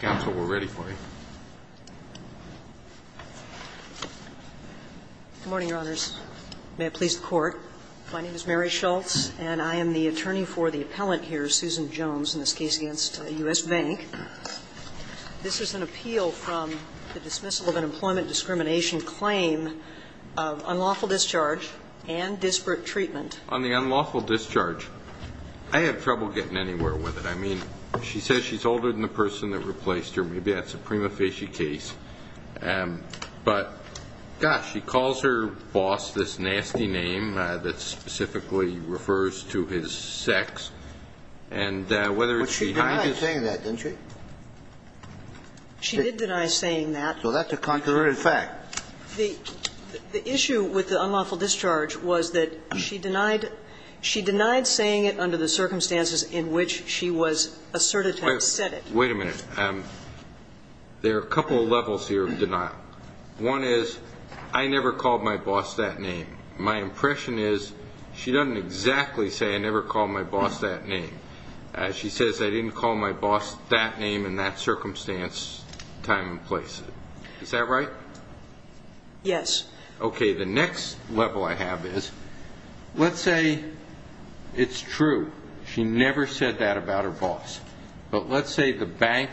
Council, we're ready for you. Good morning, Your Honors. May it please the Court, my name is Mary Schultz and I am the attorney for the appellant here, Susan Jones, in this case against US Bank. This is an appeal from the dismissal of an employment discrimination claim of unlawful discharge and disparate treatment. On the unlawful discharge, I have trouble getting anywhere with it. I mean, she says she's older than the person that replaced her. Maybe that's a prima facie case. But, gosh, she calls her boss this nasty name that specifically refers to his sex and whether it's behind his ---- But she denied saying that, didn't she? She did deny saying that. So that's a contrary fact. The issue with the unlawful discharge was that she denied saying it under the circumstances in which she was asserted to have said it. Wait a minute. There are a couple of levels here of denial. One is, I never called my boss that name. My impression is she doesn't exactly say, I never called my boss that name. She says, I didn't call my boss that name in that circumstance, time and place. Is that right? Yes. Okay, the next level I have is, let's say it's true. She never said that about her boss. But let's say the bank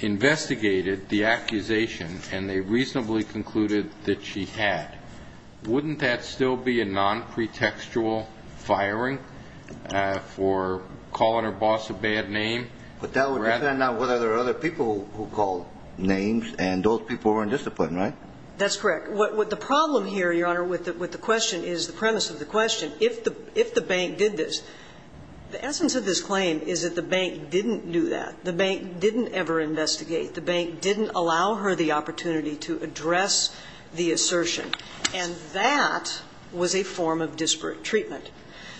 investigated the accusation and they reasonably concluded that she had. Wouldn't that still be a non-pretextual firing for calling her boss a bad name? But that would depend on whether there are other people who called names, and those people were indisciplined, right? That's correct. The problem here, Your Honor, with the question is the premise of the question, if the bank did this, the essence of this claim is that the bank didn't do that. The bank didn't ever investigate. The bank didn't allow her the opportunity to address the assertion. And that was a form of disparate treatment.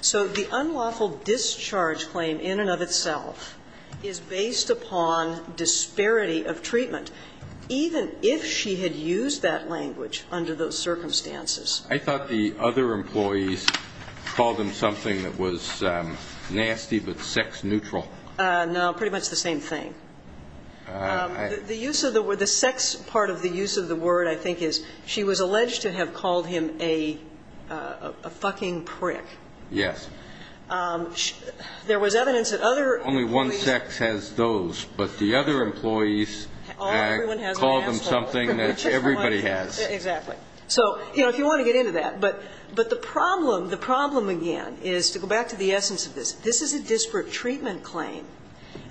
So the unlawful discharge claim in and of itself is based upon disparity of treatment, even if she had used that language under those circumstances. I thought the other employees called him something that was nasty but sex neutral. No, pretty much the same thing. The use of the word, the sex part of the use of the word, I think, is she was alleged to have called him a fucking prick. Yes. There was evidence that other employees. Only one sex has those. But the other employees called him something that everybody has. Exactly. So, you know, if you want to get into that. But the problem, the problem again is to go back to the essence of this. This is a disparate treatment claim.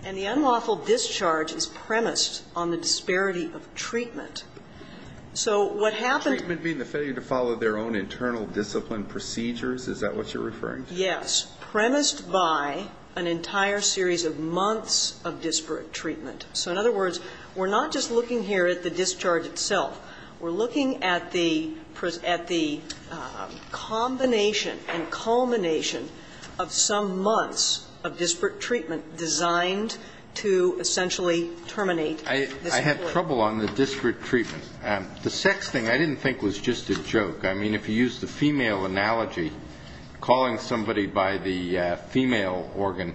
And the unlawful discharge is premised on the disparity of treatment. So what happened to the failure to follow their own internal discipline procedures, is that what you're referring to? Yes. Premised by an entire series of months of disparate treatment. So in other words, we're not just looking here at the discharge itself. We're looking at the combination and culmination of some months of disparate treatment designed to essentially terminate this employee. I had trouble on the disparate treatment. The sex thing I didn't think was just a joke. I mean, if you use the female analogy, calling somebody by the female organ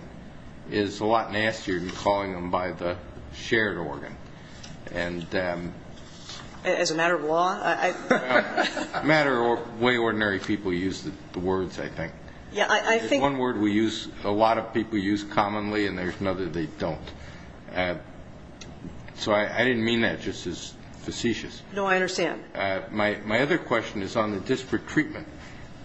is a lot nastier than calling them by the shared organ. As a matter of law? A matter of the way ordinary people use the words, I think. Yeah, I think. There's one word we use, a lot of people use commonly, and there's another they don't. So I didn't mean that just as facetious. No, I understand. My other question is on the disparate treatment.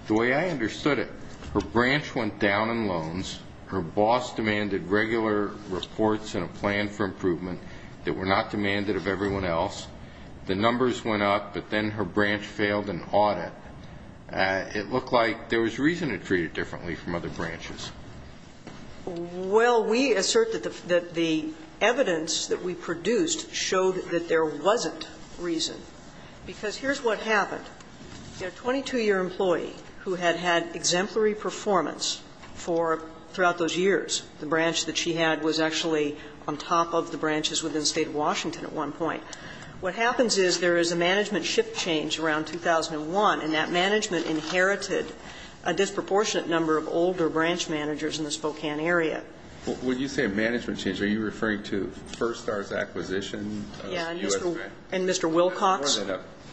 The way I understood it, her branch went down in loans, her boss demanded regular reports and a plan for improvement that were not demanded of everyone else. The numbers went up, but then her branch failed an audit. It looked like there was reason to treat it differently from other branches. Well, we assert that the evidence that we produced showed that there wasn't reason, because here's what happened. The 22-year employee who had had exemplary performance for, throughout those years, the branch that she had was actually on top of the branches within the State of Washington at one point. What happens is there is a management shift change around 2001, and that management inherited a disproportionate number of older branch managers in the Spokane area. When you say a management change, are you referring to Firstar's acquisition of U.S. Bank? And Mr. Wilcox?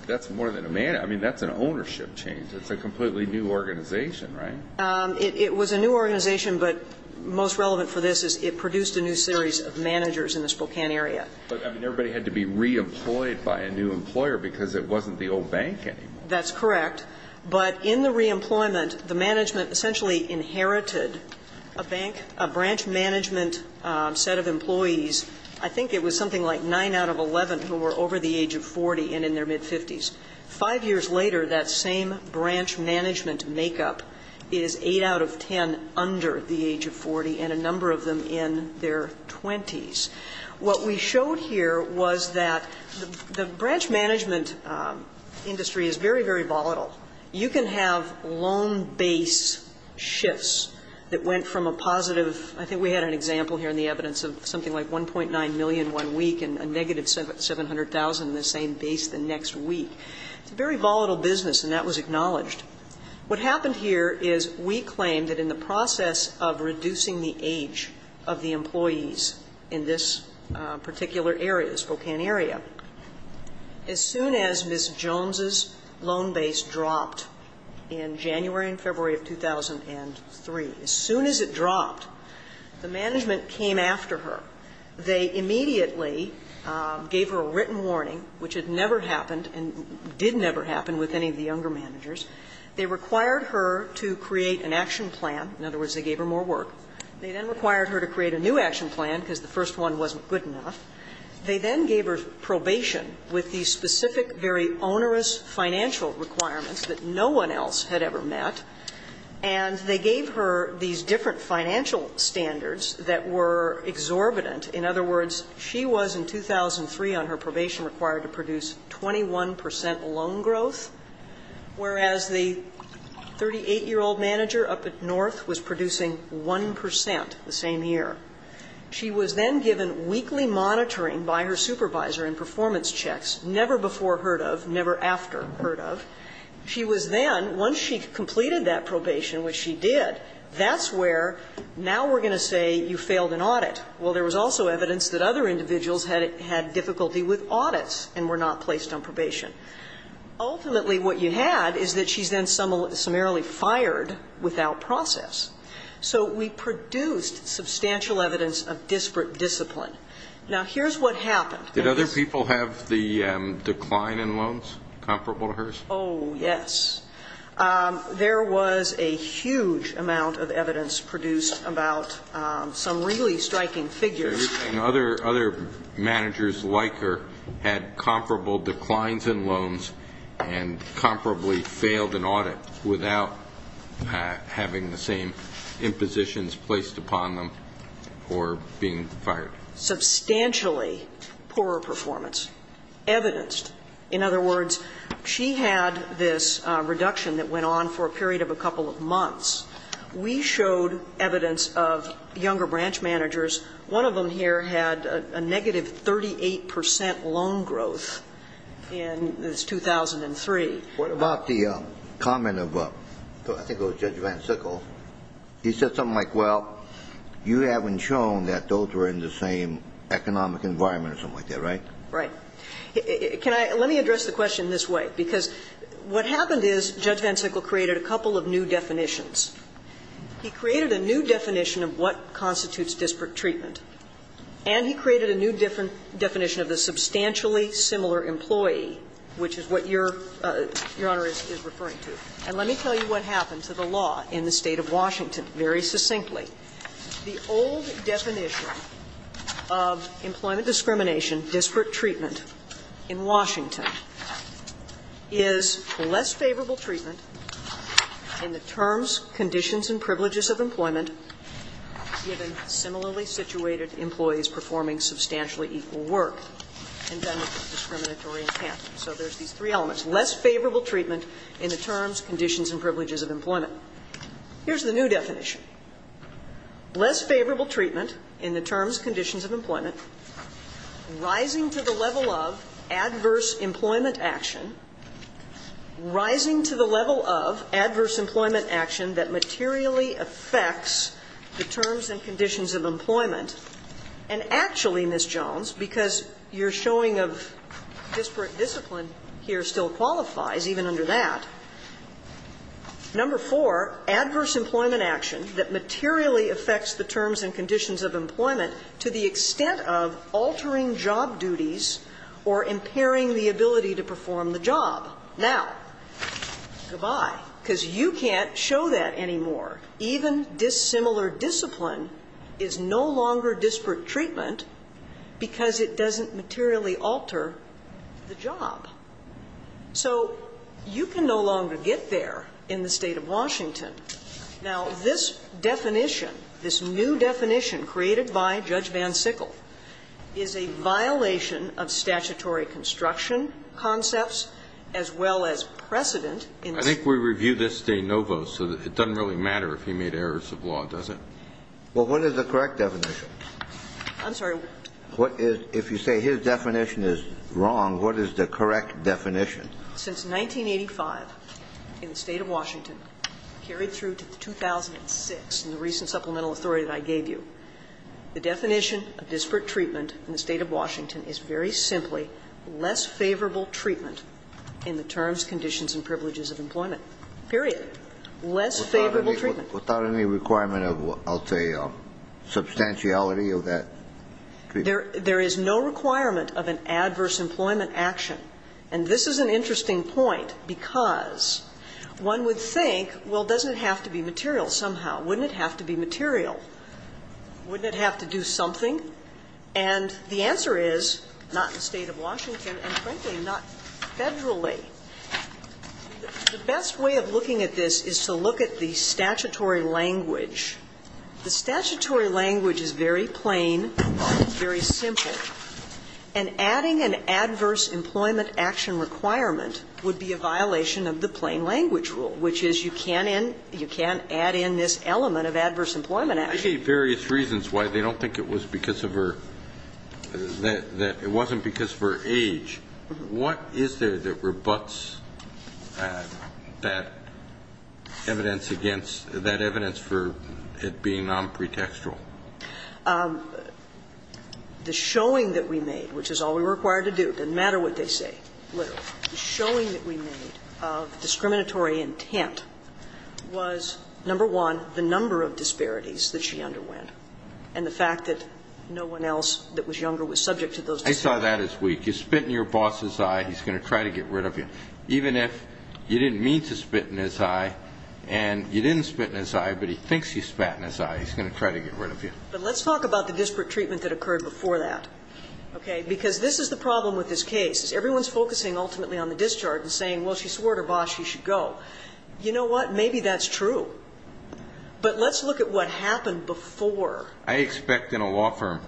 That's more than a management. I mean, that's an ownership change. It's a completely new organization, right? It was a new organization, but most relevant for this is it produced a new series of managers in the Spokane area. But, I mean, everybody had to be reemployed by a new employer because it wasn't the old bank anymore. That's correct. But in the reemployment, the management essentially inherited a bank, a branch management set of employees. I think it was something like 9 out of 11 who were over the age of 40 and in their mid-50s. Five years later, that same branch management makeup is 8 out of 10 under the age of 40 and a number of them in their 20s. What we showed here was that the branch management industry is very, very volatile. You can have loan base shifts that went from a positive – I think we had an example here in the evidence of something like 1.9 million one week and a negative 700,000 in the same base the next week. It's a very volatile business, and that was acknowledged. What happened here is we claimed that in the process of reducing the age of the employees in this particular area, the Spokane area, as soon as Ms. Jones' loan base dropped in January and February of 2003, as soon as it dropped, the management came after her. They immediately gave her a written warning, which had never happened and did never happen with any of the younger managers. They required her to create an action plan. In other words, they gave her more work. They then required her to create a new action plan, because the first one wasn't good enough. They then gave her probation with these specific, very onerous financial requirements that no one else had ever met. And they gave her these different financial standards that were exorbitant. In other words, she was in 2003 on her probation required to produce 21 percent loan growth, whereas the 38-year-old manager up at North was producing 1 percent the same year. She was then given weekly monitoring by her supervisor and performance checks, never before heard of, never after heard of. She was then, once she completed that probation, which she did, that's where now we're going to say you failed an audit. Well, there was also evidence that other individuals had difficulty with audits and were not placed on probation. Ultimately, what you had is that she's then summarily fired without process. So we produced substantial evidence of disparate discipline. Now, here's what happened. Did other people have the decline in loans comparable to hers? Oh, yes. There was a huge amount of evidence produced about some really striking figures. And other managers like her had comparable declines in loans and comparably failed an audit without having the same impositions placed upon them or being fired? Substantially poorer performance, evidenced. In other words, she had this reduction that went on for a period of a couple of months. We showed evidence of younger branch managers. One of them here had a negative 38 percent loan growth in 2003. What about the comment of, I think it was Judge Van Sickle, he said something like, well, you haven't shown that those were in the same economic environment or something like that, right? Right. Can I – let me address the question this way. Because what happened is Judge Van Sickle created a couple of new definitions. He created a new definition of what constitutes disparate treatment. And he created a new definition of the substantially similar employee, which is what Your Honor is referring to. And let me tell you what happened to the law in the State of Washington very succinctly. The old definition of employment discrimination, disparate treatment, in Washington is less favorable treatment in the terms, conditions, and privileges of employment given similarly situated employees performing substantially equal work. And then the discriminatory encampment. So there's these three elements. Less favorable treatment in the terms, conditions, and privileges of employment. Here's the new definition. Less favorable treatment in the terms, conditions of employment. Rising to the level of adverse employment action. Rising to the level of adverse employment action that materially affects the terms and conditions of employment. And actually, Ms. Jones, because your showing of disparate discipline here still qualifies, even under that. Number four, adverse employment action that materially affects the terms and conditions of employment to the extent of altering job duties or impairing the ability to perform the job. Now, goodbye, because you can't show that anymore. Even dissimilar discipline is no longer disparate treatment because it doesn't materially alter the job. So you can no longer get there in the State of Washington. Now, this definition, this new definition created by Judge Van Sickle, is a violation of statutory construction concepts as well as precedent. I think we review this de novo, so it doesn't really matter if he made errors of law, does it? Well, what is the correct definition? I'm sorry. If you say his definition is wrong, what is the correct definition? Since 1985 in the State of Washington, carried through to 2006 in the recent supplemental authority that I gave you, the definition of disparate treatment in the State of Washington is very simply less favorable treatment in the terms, conditions and privileges of employment, period. Less favorable treatment. Without any requirement of, I'll tell you, substantiality of that treatment? There is no requirement of an adverse employment action. And this is an interesting point because one would think, well, doesn't it have to be material somehow? Wouldn't it have to be material? Wouldn't it have to do something? And the answer is not in the State of Washington and, frankly, not federally. The best way of looking at this is to look at the statutory language. The statutory language is very plain, very simple, and adding an adverse employment action requirement would be a violation of the plain language rule, which is you can't add in this element of adverse employment action. Various reasons why they don't think it was because of her, that it wasn't because of her age. What is there that rebutts that evidence against, that evidence for it being nonpretextual? The showing that we made, which is all we were required to do, doesn't matter what they say, literally, the showing that we made of discriminatory intent was, number one, the number of disparities that she underwent and the fact that no one else that you spit in your boss's eye, he's going to try to get rid of you. Even if you didn't mean to spit in his eye and you didn't spit in his eye, but he thinks you spat in his eye, he's going to try to get rid of you. But let's talk about the disparate treatment that occurred before that, okay? Because this is the problem with this case. Everyone's focusing ultimately on the discharge and saying, well, she swore to her boss she should go. You know what? Maybe that's true. But let's look at what happened before. I expect in a law firm,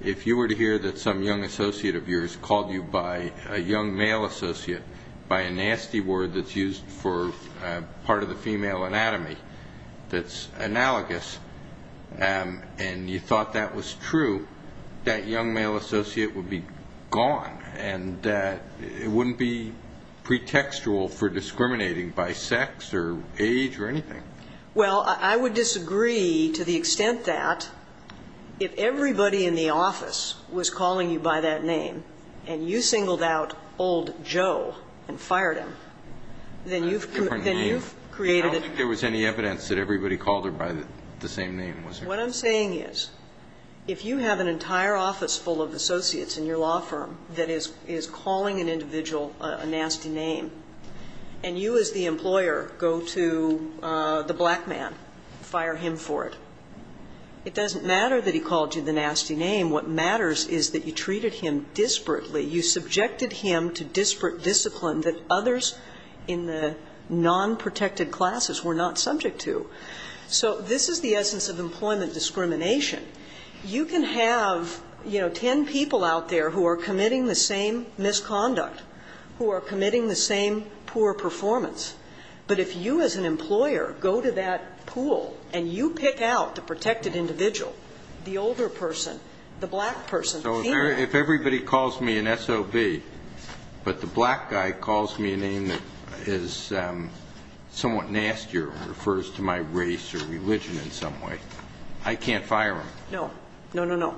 if you were to hear that some young associate of yours called you by a young male associate, by a nasty word that's used for part of the female anatomy that's analogous, and you thought that was true, that young male associate would be gone and it wouldn't be pretextual for discriminating by sex or age or anything. Well, I would disagree to the extent that if everybody in the office was calling you by that name and you singled out old Joe and fired him, then you've created a different name. I don't think there was any evidence that everybody called her by the same name, was there? What I'm saying is, if you have an entire office full of associates in your law firm that is calling an individual a nasty name, and you as the employer go to the black man, fire him for it, it doesn't matter that he called you the nasty name. What matters is that you treated him disparately. You subjected him to disparate discipline that others in the non-protected classes were not subject to. So this is the essence of employment discrimination. You can have, you know, ten people out there who are committing the same misconduct, who are committing the same poor performance, but if you as an employer go to that pool and you pick out the protected individual, the older person, the black person, the female. So if everybody calls me an SOB, but the black guy calls me a name that is somewhat nastier or refers to my race or religion in some way, I can't fire him. No. No, no, no.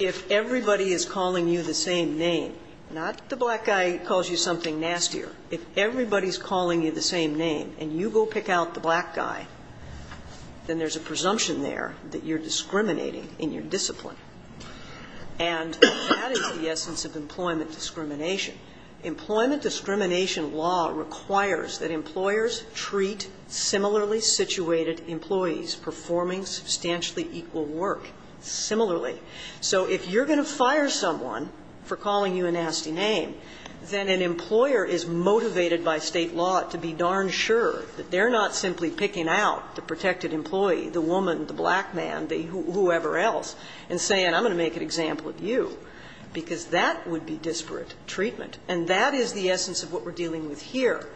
If everybody is calling you the same name, not the black guy calls you something nastier. If everybody is calling you the same name and you go pick out the black guy, then there's a presumption there that you're discriminating in your discipline. And that is the essence of employment discrimination. Employment discrimination law requires that employers treat similarly situated employees performing substantially equal work similarly. So if you're going to fire someone for calling you a nasty name, then an employer is motivated by State law to be darn sure that they're not simply picking out the protected employee, the woman, the black man, the whoever else, and saying I'm going to make an example of you, because that would be disparate treatment. And that is the essence of what we're dealing with here.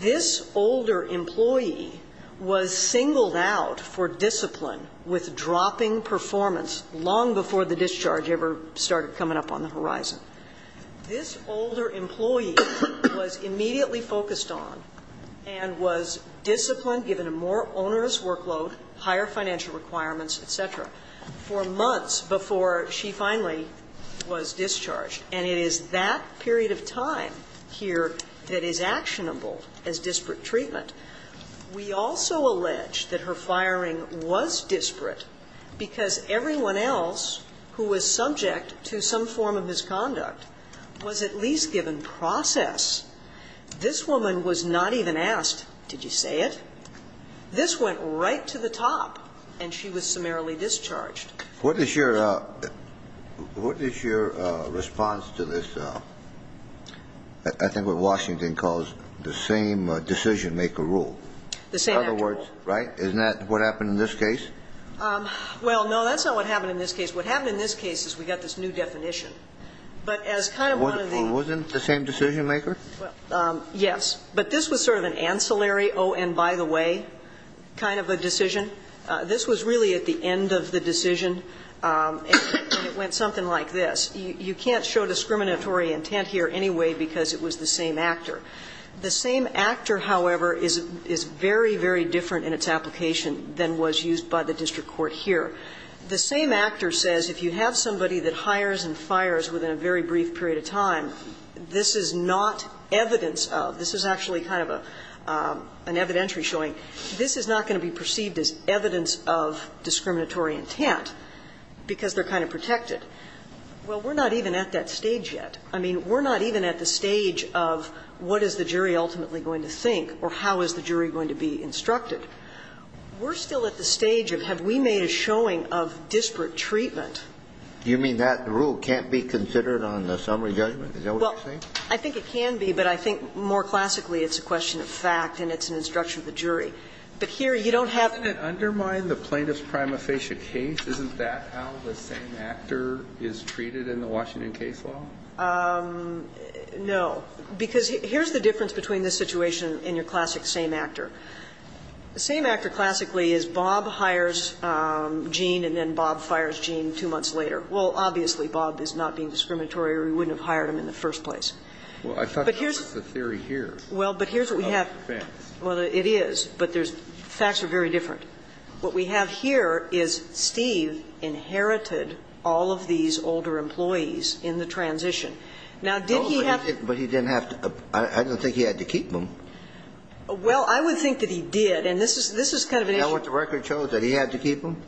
This older employee was singled out for discipline with dropping performance long before the discharge ever started coming up on the horizon. This older employee was immediately focused on and was disciplined, given a more discipline. And it is that period of time here that is actionable as disparate treatment. We also allege that her firing was disparate because everyone else who was subject to some form of misconduct was at least given process. This woman was not even asked, did you say it? This went right to the top, and she was summarily discharged. What is your response to this, I think what Washington calls the same decision maker rule? The same rule. In other words, right? Isn't that what happened in this case? Well, no, that's not what happened in this case. What happened in this case is we got this new definition. But as kind of one of the ---- Wasn't the same decision maker? Yes. But this was sort of an ancillary, oh, and by the way, kind of a decision. This was really at the end of the decision, and it went something like this. You can't show discriminatory intent here anyway because it was the same actor. The same actor, however, is very, very different in its application than was used by the district court here. The same actor says if you have somebody that hires and fires within a very brief period of time, this is not evidence of, this is actually kind of an evidentiary showing, this is not going to be perceived as evidence of discriminatory intent because they're kind of protected. Well, we're not even at that stage yet. I mean, we're not even at the stage of what is the jury ultimately going to think or how is the jury going to be instructed. We're still at the stage of have we made a showing of disparate treatment? You mean that rule can't be considered on the summary judgment? Is that what you're saying? Well, I think it can be, but I think more classically it's a question of fact and it's an instruction of the jury. But here you don't have to. Doesn't it undermine the plaintiff's prima facie case? Isn't that how the same actor is treated in the Washington case law? No. Because here's the difference between this situation and your classic same actor. The same actor classically is Bob hires Gene and then Bob fires Gene two months later. Well, obviously Bob is not being discriminatory or we wouldn't have hired him in the first place. Well, I thought that was the theory here. Well, but here's what we have. Well, it is. But facts are very different. What we have here is Steve inherited all of these older employees in the transition. Now, did he have to? No, but he didn't have to. I don't think he had to keep them. Well, I would think that he did. And this is kind of an issue. Is that what the record shows, that he had to keep them?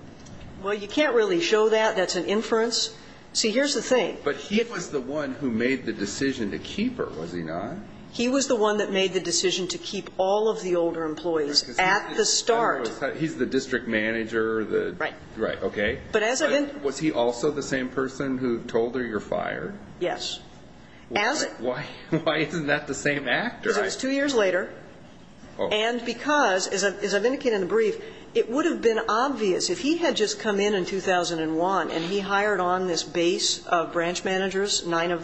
Well, you can't really show that. That's an inference. See, here's the thing. But he was the one who made the decision to keep her, was he not? He was the one that made the decision to keep all of the older employees at the start. He's the district manager. Right. Right. Okay. Was he also the same person who told her you're fired? Yes. Why isn't that the same actor? Because it was two years later. And because, as I've indicated in the brief, it would have been obvious if he had just come in in 2001 and he hired on this base of branch managers, 11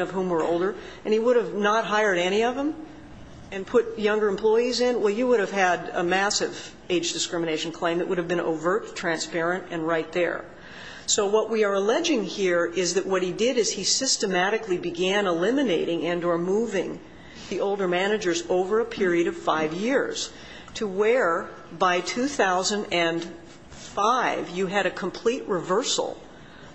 of whom were not hired, any of them, and put younger employees in, well, you would have had a massive age discrimination claim. It would have been overt, transparent, and right there. So what we are alleging here is that what he did is he systematically began eliminating and or moving the older managers over a period of five years to where, by 2005, you had a complete reversal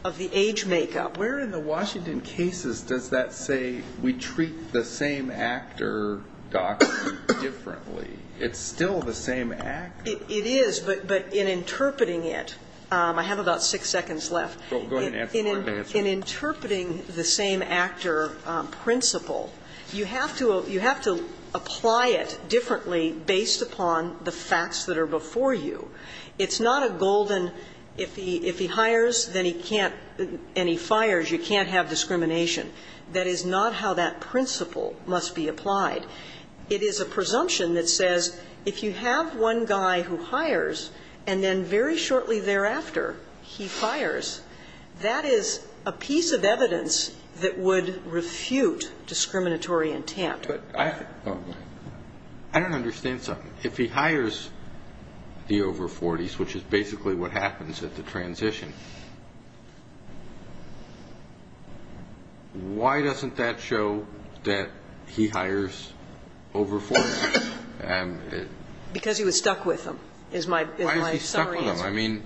of the age makeup. But where in the Washington cases does that say we treat the same actor doctrine differently? It's still the same actor. It is. But in interpreting it, I have about six seconds left. Go ahead and answer. In interpreting the same actor principle, you have to apply it differently based upon the facts that are before you. It's not a golden, if he hires, then he can't, and he fires, you can't have discrimination. That is not how that principle must be applied. It is a presumption that says if you have one guy who hires and then very shortly thereafter he fires, that is a piece of evidence that would refute discriminatory intent. I don't understand something. If he hires the over 40s, which is basically what happens at the transition, why doesn't that show that he hires over 40s? Because he was stuck with them is my summary answer. Why is he stuck with them? I mean,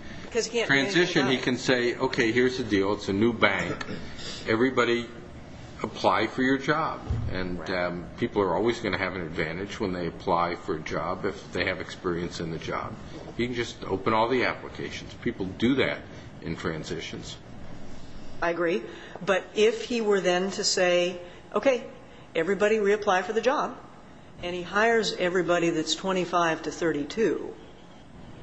transition, he can say, okay, here's the deal. It's a new bank. Everybody apply for your job, and people are always going to have an advantage when they apply for a job if they have experience in the job. He can just open all the applications. People do that in transitions. I agree. But if he were then to say, okay, everybody reapply for the job, and he hires everybody that's 25 to 32.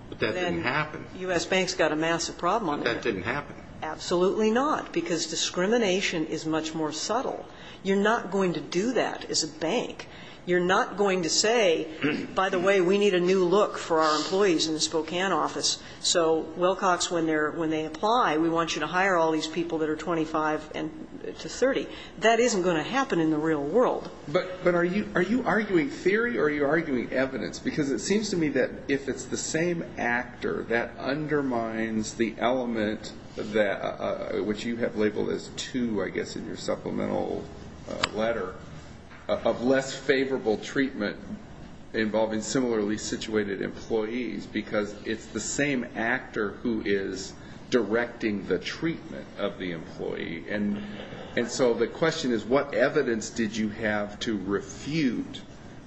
But that didn't happen. Then U.S. Bank's got a massive problem. But that didn't happen. Absolutely not, because discrimination is much more subtle. You're not going to do that as a bank. You're not going to say, by the way, we need a new look for our employees in the Spokane office. So, Wilcox, when they apply, we want you to hire all these people that are 25 to 30. That isn't going to happen in the real world. But are you arguing theory or are you arguing evidence? Because it seems to me that if it's the same actor that undermines the element that, which you have labeled as two, I guess, in your supplemental letter, of less favorable treatment involving similarly situated employees, because it's the same actor who is directing the treatment of the employee. And so the question is, what evidence did you have to refute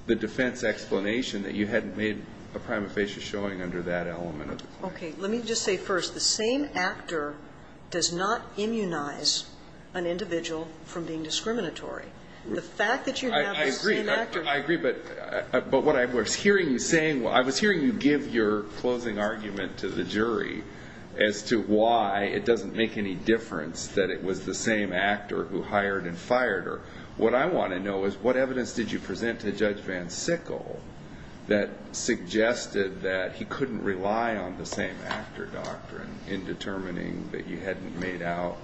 the defense explanation that you hadn't made a prima facie showing under that element? Okay. Let me just say first, the same actor does not immunize an individual from being discriminatory. The fact that you have the same actor. I agree. But what I was hearing you saying, I was hearing you give your closing argument to the jury as to why it doesn't make any difference that it was the same actor who hired and fired her. What I want to know is, what evidence did you present to Judge Van Sickle that suggested that he couldn't rely on the same actor doctrine in determining that you hadn't made out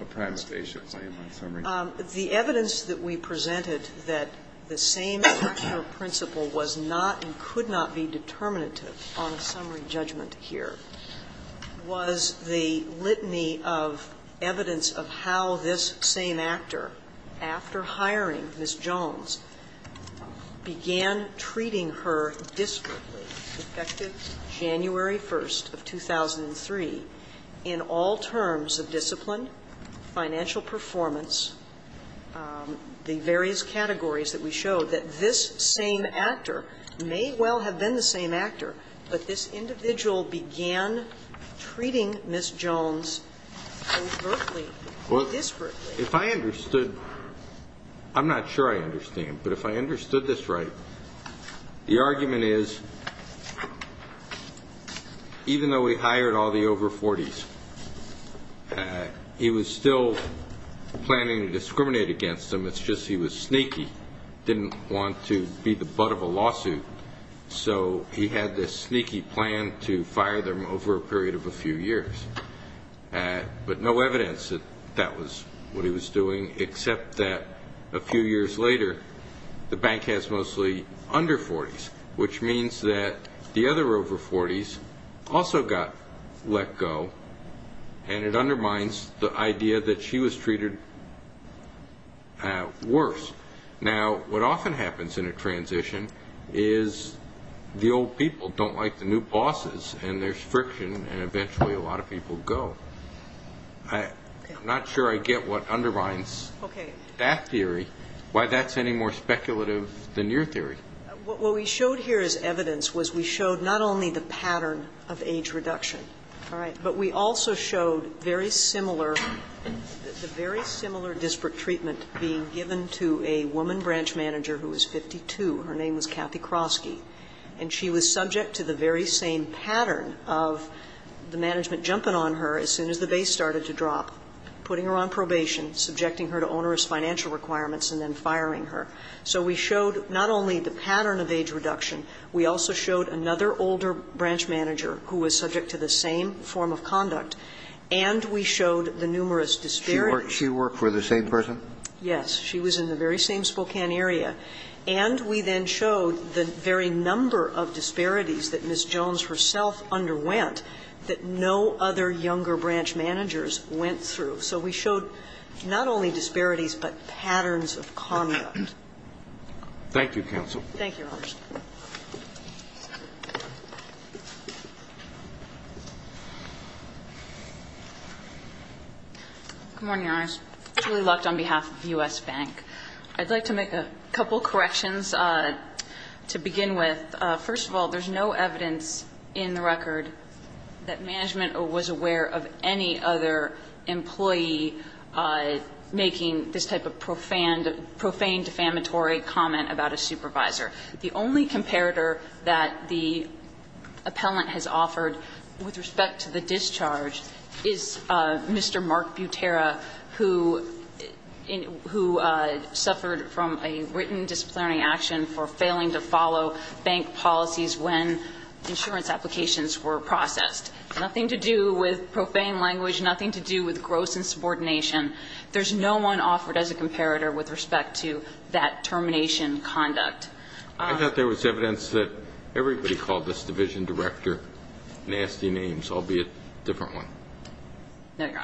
a prima facie claim on summary? The evidence that we presented that the same actor principle was not and could not be determinative on a summary judgment here was the litany of evidence of how this same actor, after hiring Ms. Jones, began treating her discreetly, effective January 1st of 2003, in all terms of discipline, financial performance, the various categories that we showed, that this same actor may well have been the same actor, but this individual began treating Ms. Jones overtly or disparately. If I understood, I'm not sure I understand, but if I understood this right, the argument is, even though he hired all the over 40s, he was still planning to discriminate against them. It's just he was sneaky, didn't want to be the butt of a lawsuit. So he had this sneaky plan to fire them over a period of a few years. But no evidence that that was what he was doing, except that a few years later, the bank has mostly under 40s, which means that the other over 40s also got let go, and it undermines the idea that she was treated worse. Now, what often happens in a transition is the old people don't like the new bosses, and there's friction, and eventually a lot of people go. I'm not sure I get what undermines that theory, why that's any more speculative than your theory. What we showed here as evidence was we showed not only the pattern of age reduction, but we also showed very similar, the very similar disparate treatment being given to a woman branch manager who was 52. Her name was Kathy Krosky. And she was subject to the very same pattern of the management jumping on her as soon as the base started to drop, putting her on probation, subjecting her to onerous financial requirements, and then firing her. So we showed not only the pattern of age reduction, we also showed another older branch manager who was subject to the same form of conduct, and we showed the numerous disparities. She worked for the same person? Yes. She was in the very same Spokane area. And we then showed the very number of disparities that Ms. Jones herself underwent that no other younger branch managers went through. So we showed not only disparities, but patterns of conduct. Thank you, counsel. Thank you, Your Honors. Good morning, Your Honors. Julie Lucht on behalf of U.S. Bank. I'd like to make a couple of corrections to begin with. First of all, there's no evidence in the record that management was aware of any other employee making this type of profane, defamatory comment about a supervisor. The only comparator that the appellant has offered with respect to the discharge is Mr. Mark Butera, who suffered from a written disciplinary action for failing to follow bank policies when insurance applications were processed. Nothing to do with profane language, nothing to do with gross insubordination. There's no one offered as a comparator with respect to that termination conduct. I thought there was evidence that everybody called this division director nasty names, albeit a different one. No, Your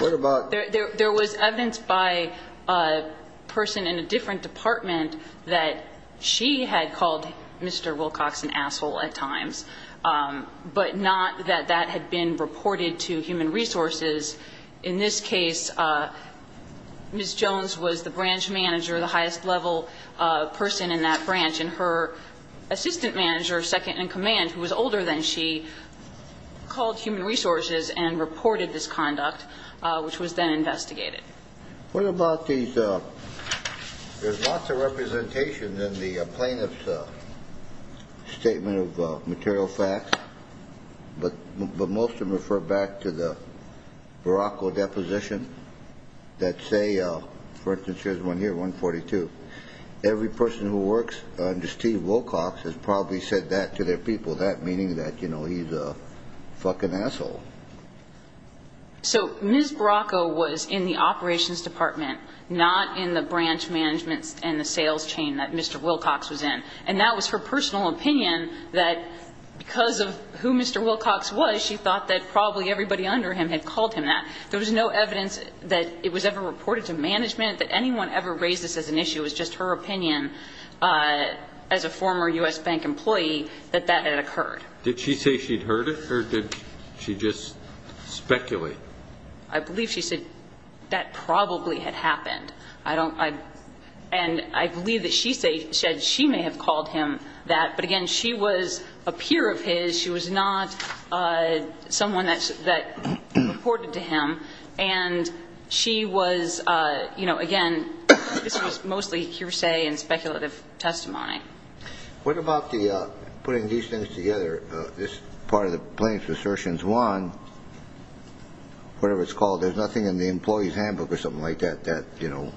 Honor. There was evidence by a person in a different department that she had called Mr. Wilcox an asshole at times, but not that that had been reported to human resources. In this case, Ms. Jones was the branch manager, the highest-level person in that branch, and her assistant manager, second-in-command, who was older than she, called human resources and reported this conduct, which was then investigated. What about these ñ there's lots of representation in the plaintiff's statement of material facts, but most of them refer back to the Baracko deposition that say, for instance, here's one here, 142. Every person who works under Steve Wilcox has probably said that to their people, that meaning that, you know, he's a fucking asshole. So Ms. Baracko was in the operations department, not in the branch management and the sales chain that Mr. Wilcox was in. And that was her personal opinion that because of who Mr. Wilcox was, she thought that probably everybody under him had called him that. There was no evidence that it was ever reported to management, that anyone ever raised this as an issue. It was just her opinion as a former U.S. bank employee that that had occurred. Did she say she'd heard it, or did she just speculate? I believe she said that probably had happened. And I believe that she said she may have called him that. But, again, she was a peer of his. She was not someone that reported to him. And she was, you know, again, this was mostly hearsay and speculative testimony. What about the putting these things together, this part of the plaintiff's assertions? One, whatever it's called, there's nothing in the employee's handbook or something like that that, you know,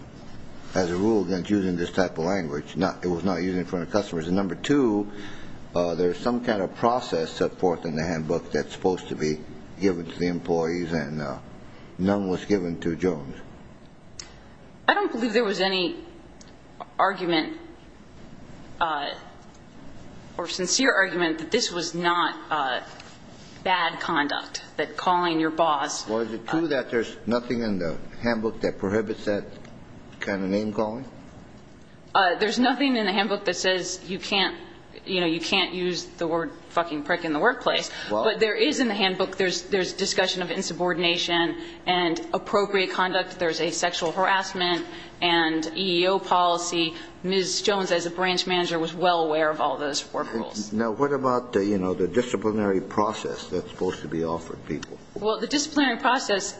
has a rule against using this type of language. It was not used in front of customers. And, number two, there's some kind of process set forth in the handbook that's supposed to be given to the employees, and none was given to Jones. I don't believe there was any argument or sincere argument that this was not bad conduct, that calling your boss. Well, is it true that there's nothing in the handbook that prohibits that kind of name calling? There's nothing in the handbook that says you can't, you know, you can't use the word fucking prick in the workplace. But there is in the handbook. There's discussion of insubordination and appropriate conduct. There's a sexual harassment and EEO policy. Ms. Jones, as a branch manager, was well aware of all those four rules. Now, what about, you know, the disciplinary process that's supposed to be offered people? Well, the disciplinary process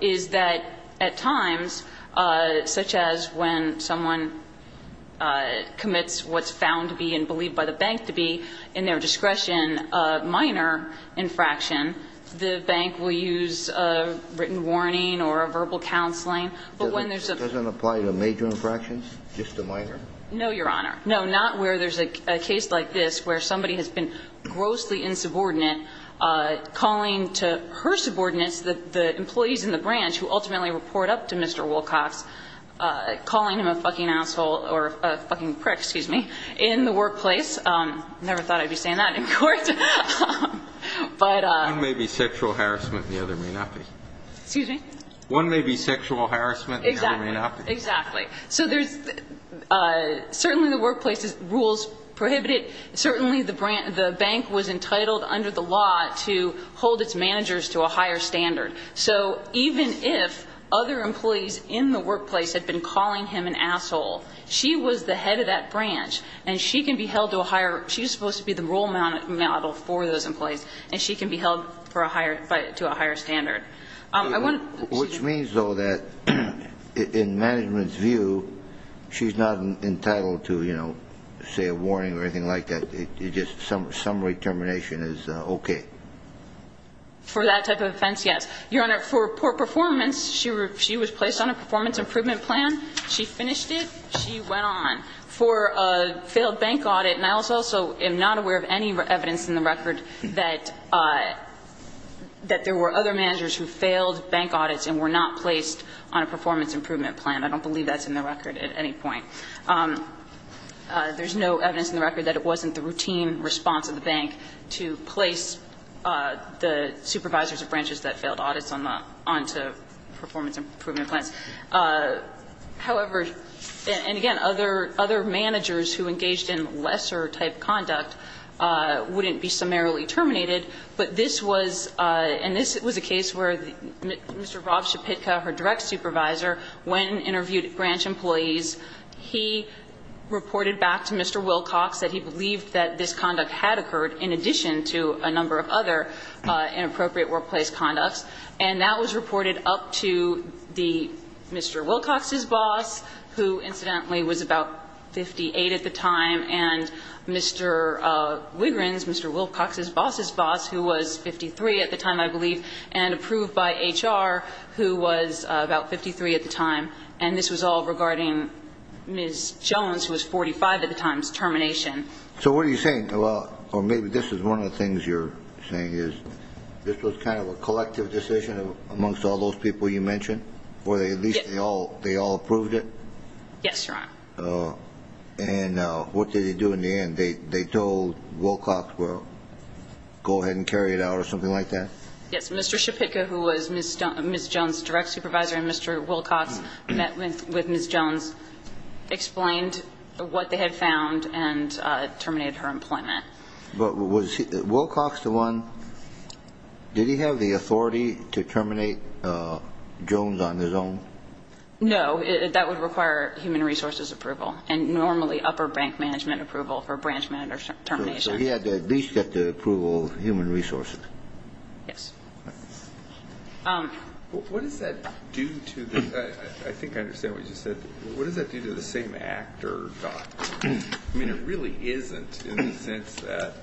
is that at times, such as when someone commits what's found to be and believed by the bank to be in their discretion a minor infraction, the bank will use a written warning or a verbal counseling. But when there's a ---- Doesn't it apply to major infractions, just a minor? No, Your Honor. No, not where there's a case like this where somebody has been grossly insubordinate, calling to her subordinates, the employees in the branch who ultimately report up to Mr. Wilcox, calling him a fucking asshole or a fucking prick, excuse me, in the workplace. Never thought I'd be saying that in court. But ---- One may be sexual harassment and the other may not be. Excuse me? One may be sexual harassment and the other may not be. Exactly. So there's certainly the workplace rules prohibit it. Certainly the bank was entitled under the law to hold its managers to a higher standard. So even if other employees in the workplace had been calling him an asshole, she was the head of that branch and she can be held to a higher ---- she's supposed to be the role model for those employees and she can be held to a higher standard. Which means, though, that in management's view, she's not entitled to, you know, say a warning or anything like that. It's just summary termination is okay. For that type of offense, yes. Your Honor, for poor performance, she was placed on a performance improvement plan. She finished it. She went on. For a failed bank audit, and I also am not aware of any evidence in the record that there were other managers who failed bank audits and were not placed on a performance improvement plan. I don't believe that's in the record at any point. There's no evidence in the record that it wasn't the routine response of the bank to place the supervisors of branches that failed audits onto performance improvement plans. However, and again, other managers who engaged in lesser-type conduct wouldn't be summarily terminated. But this was ---- and this was a case where Mr. Rob Schapitka, her direct supervisor, when interviewed at Branch Employees, he reported back to Mr. Wilcox that he believed that this conduct had occurred in addition to a number of other inappropriate workplace conducts. And that was reported up to Mr. Wilcox's boss, who incidentally was about 58 at the time, and Mr. Wigrin's, Mr. Wilcox's boss's boss, who was 53 at the time, I believe, and approved by HR, who was about 53 at the time. And this was all regarding Ms. Jones, who was 45 at the time's termination. So what are you saying? Well, or maybe this is one of the things you're saying is this was kind of a collective decision amongst all those people you mentioned, or at least they all approved it? Yes, Your Honor. And what did they do in the end? They told Wilcox, well, go ahead and carry it out or something like that? Yes, Mr. Schapitka, who was Ms. Jones' direct supervisor, and Mr. Wilcox met with Ms. Jones, explained what they had found, and terminated her employment. But was Wilcox the one? Did he have the authority to terminate Jones on his own? No. That would require human resources approval, and normally upper bank management approval for branch manager termination. So he had to at least get the approval of human resources. Yes. What does that do to the ñ I think I understand what you said. What does that do to the same actor? I mean, it really isn't in the sense that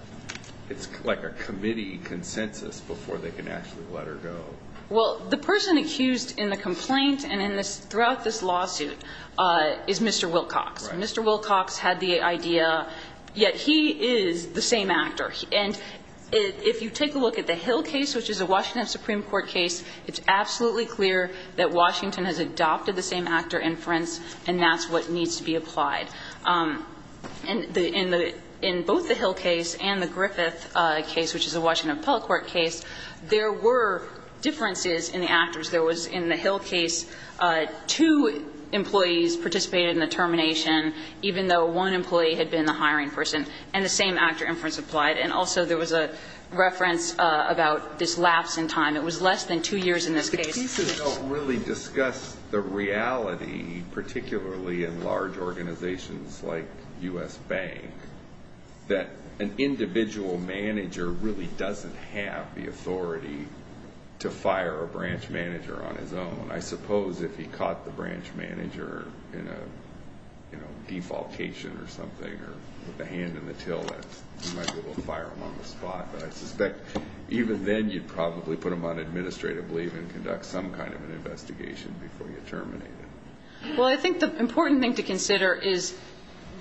it's like a committee consensus before they can actually let her go. Well, the person accused in the complaint and throughout this lawsuit is Mr. Wilcox. Mr. Wilcox had the idea, yet he is the same actor. And if you take a look at the Hill case, which is a Washington Supreme Court case, it's absolutely clear that Washington has adopted the same actor inference, and that's what needs to be applied. In both the Hill case and the Griffith case, which is a Washington appellate court case, there were differences in the actors. There was, in the Hill case, two employees participated in the termination, even though one employee had been the hiring person, and the same actor inference applied. And also there was a reference about this lapse in time. It was less than two years in this case. The cases don't really discuss the reality, particularly in large organizations like U.S. Bank, that an individual manager really doesn't have the authority to fire a branch manager on his own. I suppose if he caught the branch manager in a, you know, defalcation or something, or with a hand in the till, that he might be able to fire him on the spot. But I suspect even then you'd probably put him on administrative leave and conduct some kind of an investigation before you terminate him. Well, I think the important thing to consider is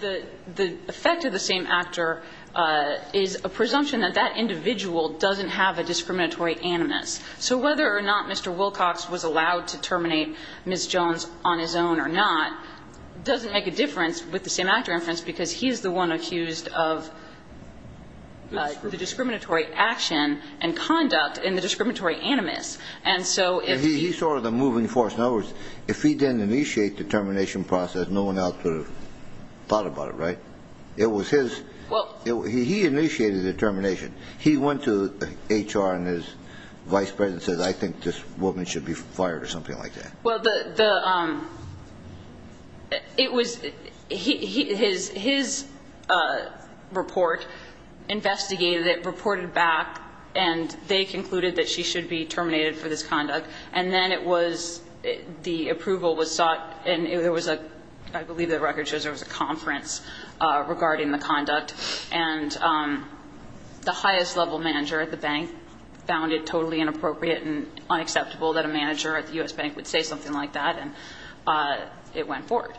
the effect of the same actor is a presumption that that individual doesn't have a discriminatory animus. So whether or not Mr. Wilcox was allowed to terminate Ms. Jones on his own or not doesn't make a difference with the same actor inference because he's the one accused of the discriminatory action and conduct in the discriminatory animus. And so if he... He's sort of the moving force. In other words, if he didn't initiate the termination process, no one else would have thought about it, right? It was his... Well... He initiated the termination. He went to HR and his vice president and said, I think this woman should be fired or something like that. Well, the... It was... His report investigated it, reported back, and they concluded that she should be terminated for this conduct. And then it was... The approval was sought and there was a... I believe the record shows there was a conference regarding the conduct. And the highest level manager at the bank found it totally inappropriate and unacceptable that a manager at the U.S. Bank would say something like that. And it went forward.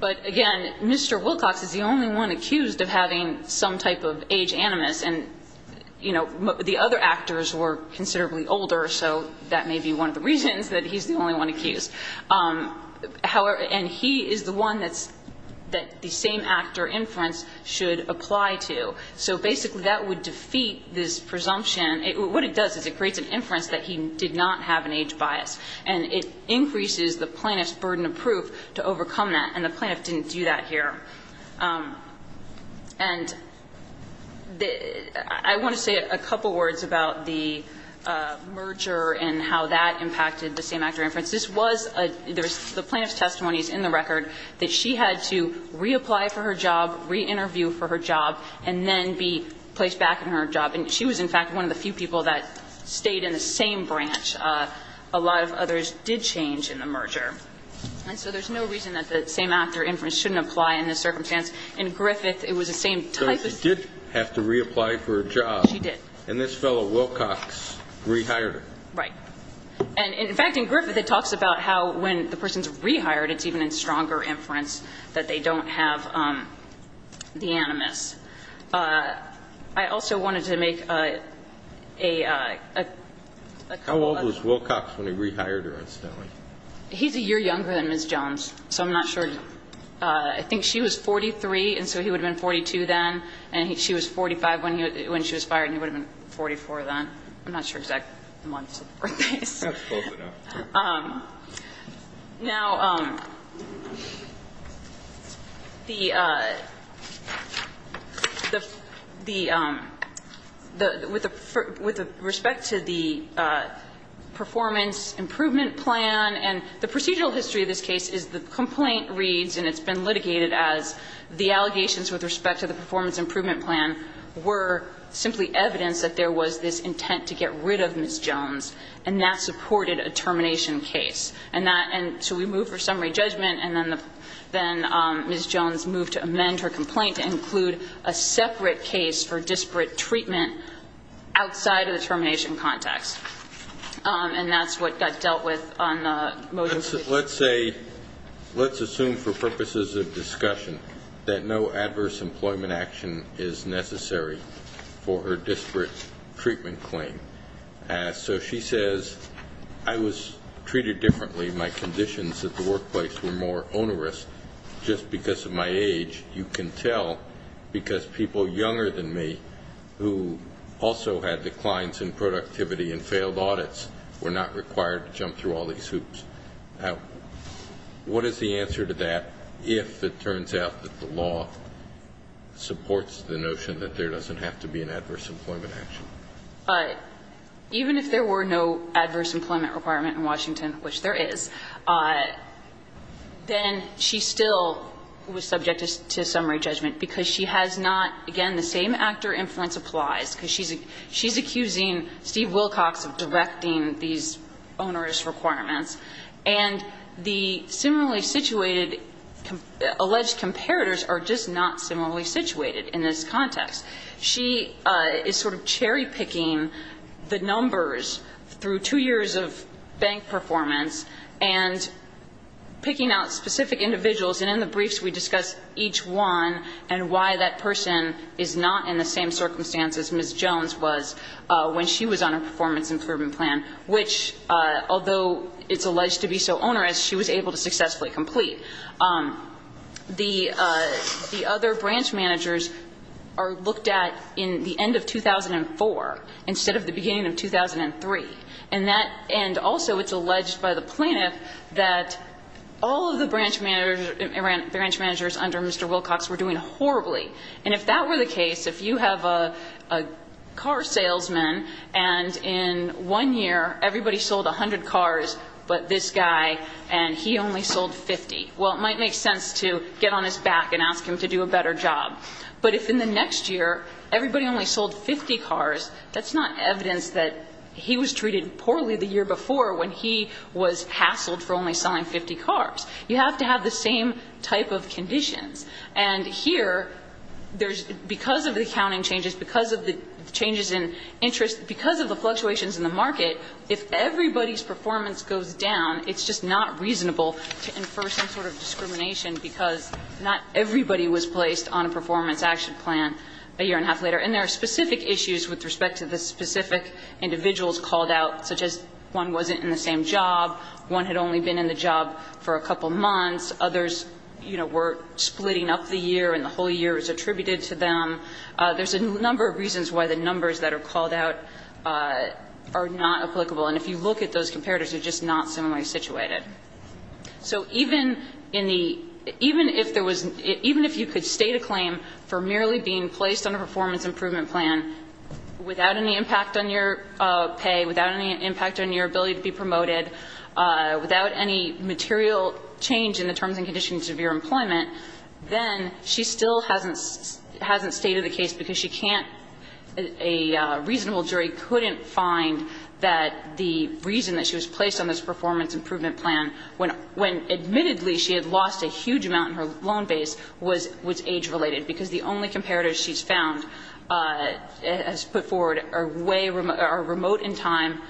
But, again, Mr. Wilcox is the only one accused of having some type of age animus. And, you know, the other actors were considerably older, so that may be one of the reasons that he's the only one accused. And he is the one that the same-actor inference should apply to. So, basically, that would defeat this presumption. What it does is it creates an inference that he did not have an age bias. And it increases the plaintiff's burden of proof to overcome that, and the plaintiff didn't do that here. And I want to say a couple words about the merger and how that impacted the same-actor inference. This was a... The plaintiff's testimony is in the record that she had to reapply for her job, re-interview for her job, and then be placed back in her job. And she was, in fact, one of the few people that stayed in the same branch. A lot of others did change in the merger. And so there's no reason that the same-actor inference shouldn't apply in this circumstance. In Griffith, it was the same type of... So she did have to reapply for a job. She did. And this fellow, Wilcox, rehired her. Right. And, in fact, in Griffith, it talks about how when the person's rehired, it's even in stronger inference that they don't have the animus. I also wanted to make a couple of... How old was Wilcox when he rehired her, incidentally? He's a year younger than Ms. Jones, so I'm not sure. I think she was 43, and so he would have been 42 then. And she was 45 when she was fired, and he would have been 44 then. I'm not sure exactly the months or days. That's close enough. Now, the the with the with respect to the performance improvement plan, and the procedural history of this case is the complaint reads, and it's been litigated as the allegations with respect to the performance improvement plan were simply evidence that there was this intent to get rid of Ms. Jones, and that supported a termination case. And so we move for summary judgment, and then Ms. Jones moved to amend her complaint to include a separate case for disparate treatment outside of the termination context. And that's what got dealt with on the motion. Let's assume for purposes of discussion that no adverse employment action is necessary for her disparate treatment claim. So she says, I was treated differently. My conditions at the workplace were more onerous just because of my age. You can tell because people younger than me who also had declines in productivity and failed audits were not required to jump through all these hoops. Now, what is the answer to that if it turns out that the law supports the notion that there doesn't have to be an adverse employment action? Even if there were no adverse employment requirement in Washington, which there is, then she still was subject to summary judgment because she has not, again, the same actor influence applies, because she's accusing Steve Wilcox of directing these onerous requirements. And the similarly situated alleged comparators are just not similarly situated in this context. She is sort of cherry-picking the numbers through two years of bank performance and picking out specific individuals. And in the briefs, we discuss each one and why that person is not in the same circumstance as Ms. Jones was when she was on a performance improvement plan, which, although it's alleged to be so onerous, she was able to successfully complete. The other branch managers are looked at in the end of 2004 instead of the beginning of 2003. And that end also, it's alleged by the plaintiff that all of the branch managers under Mr. Wilcox were doing horribly. And if that were the case, if you have a car salesman and in one year everybody sold 100 cars, but this guy and he only sold 50, well, it might make sense to get on his back and ask him to do a better job. But if in the next year everybody only sold 50 cars, that's not evidence that he was treated poorly the year before when he was hassled for only selling 50 cars. You have to have the same type of conditions. And here, because of the accounting changes, because of the changes in interest, because of the fluctuations in the market, if everybody's performance goes down, it's just not reasonable to infer some sort of discrimination because not everybody was placed on a performance action plan a year and a half later. And there are specific issues with respect to the specific individuals called out, such as one wasn't in the same job, one had only been in the job for a couple of months, others, you know, were splitting up the year and the whole year was attributed to them. There's a number of reasons why the numbers that are called out are not applicable. And if you look at those comparators, they're just not similarly situated. So even in the – even if there was – even if you could state a claim for merely being placed on a performance improvement plan without any impact on your pay, without any impact on your ability to be promoted, without any material change in the terms and conditions of your employment, then she still hasn't – hasn't stated the case because she can't – a reasonable jury couldn't find that the reason that she was placed on this performance improvement plan, when admittedly she had lost a huge amount in her loan base, was age-related, because the only comparators she's found has put forward are way – are remote in time.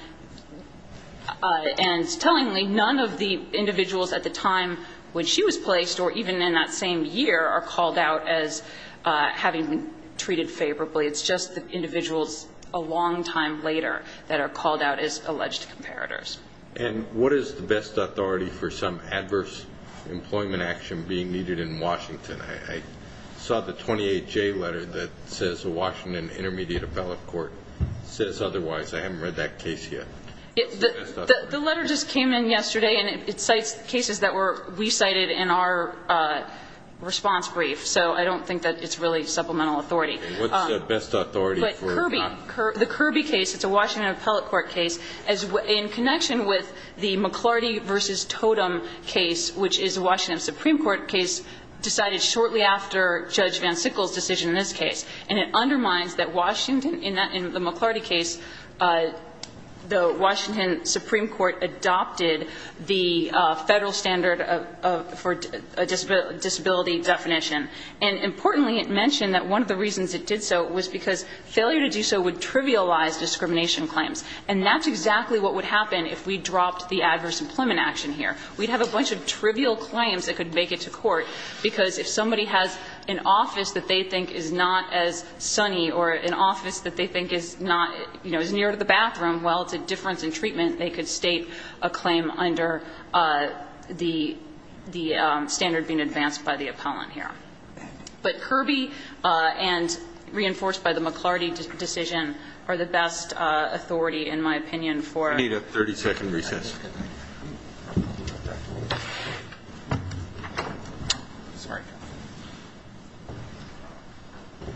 And tellingly, none of the individuals at the time when she was placed, or even in that same year, are called out as having been treated favorably. It's just the individuals a long time later that are called out as alleged comparators. And what is the best authority for some adverse employment action being needed in Washington? I saw the 28J letter that says the Washington Intermediate Appellate Court says otherwise. I haven't read that case yet. What's the best authority? The letter just came in yesterday, and it cites cases that were recited in our response brief, so I don't think that it's really supplemental authority. Okay. What's the best authority for – But Kirby – the Kirby case, it's a Washington Appellate Court case. In connection with the McLarty v. Totem case, which is a Washington Supreme Court case decided shortly after Judge Van Sickle's decision in this case. And it undermines that Washington – in the McLarty case, the Washington Supreme Court adopted the federal standard of – for disability definition. And importantly, it mentioned that one of the reasons it did so was because failure to do so would trivialize discrimination claims. And that's exactly what would happen if we dropped the adverse employment action here. We'd have a bunch of trivial claims that could make it to court, because if somebody has an office that they think is not as sunny or an office that they think is not, you know, as near to the bathroom, well, it's a difference in treatment, they could state a claim under the standard being advanced by the appellant here. But Kirby and reinforced by the McLarty decision are the best authority, in my opinion, for – I need a 30-second recess. Okay. Sorry. Thank you. Thank you. Thank you.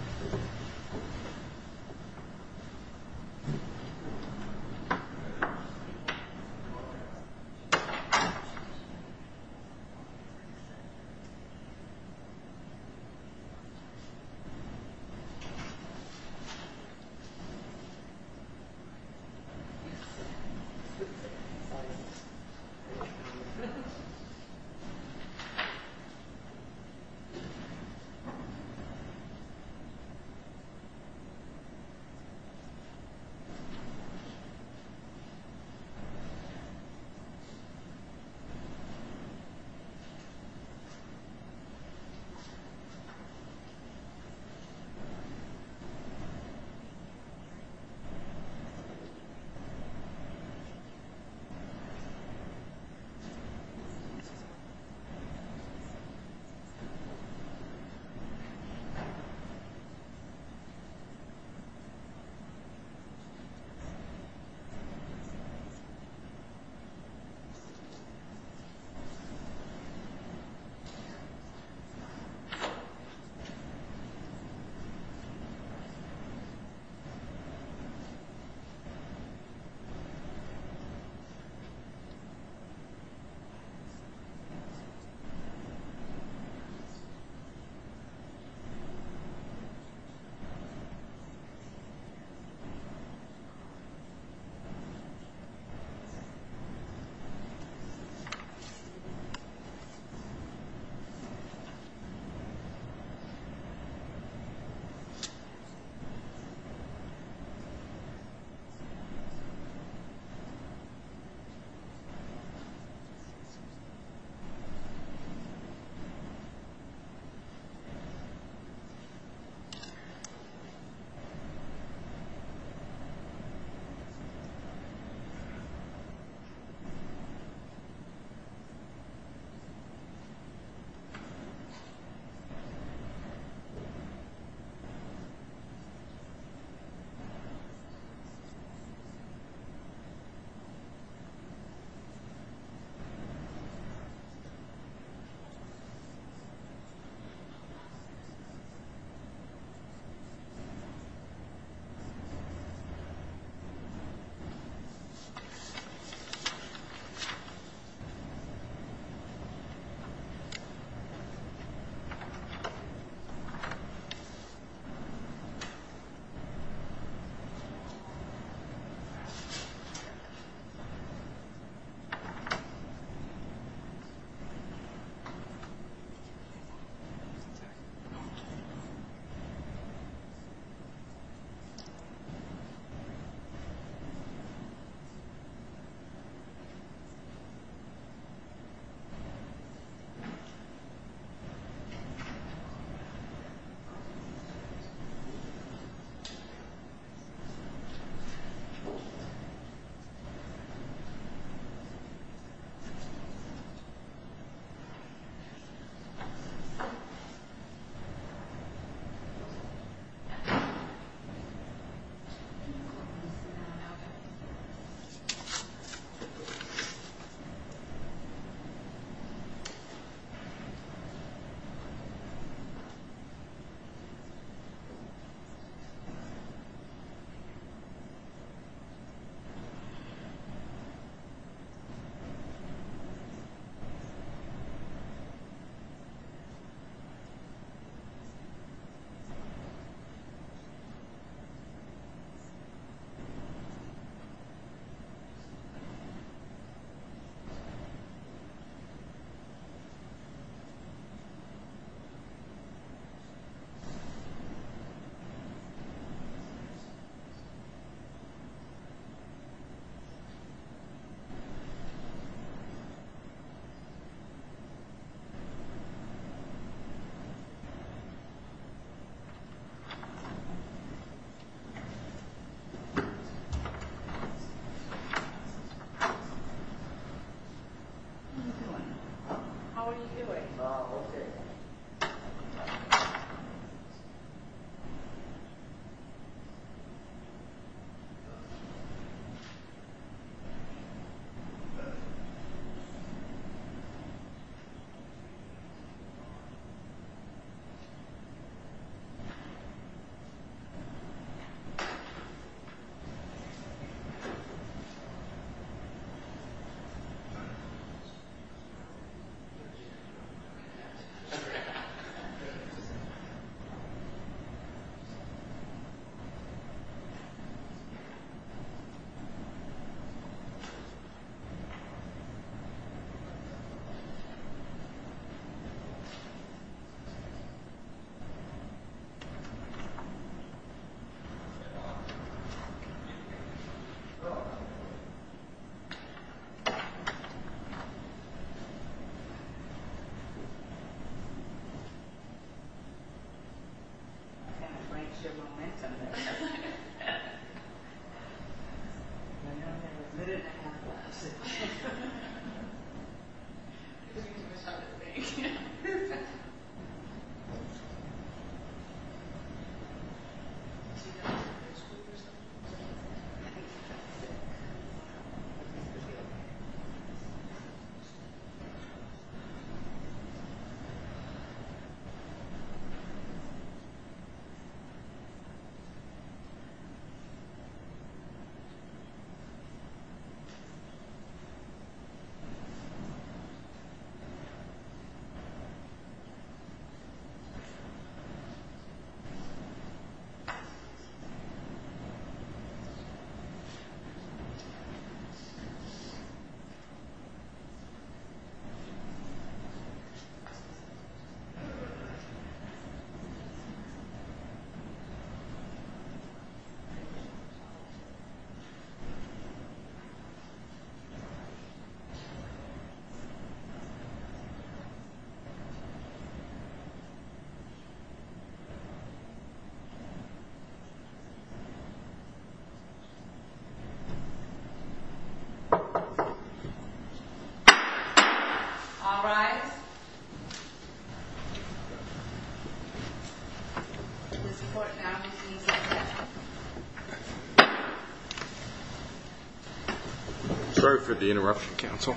Thank you. Thank you. Thank you. Thank you. Thank you. Thank you. How are you doing? Oh, okay. Sorry. I can't quite get your momentum there. I know you're a minute and a half past it. I think you just have to wait. Do you have some ice cream or something? I think so. Thank you. Okay. All rise. Sorry for the interruption, counsel.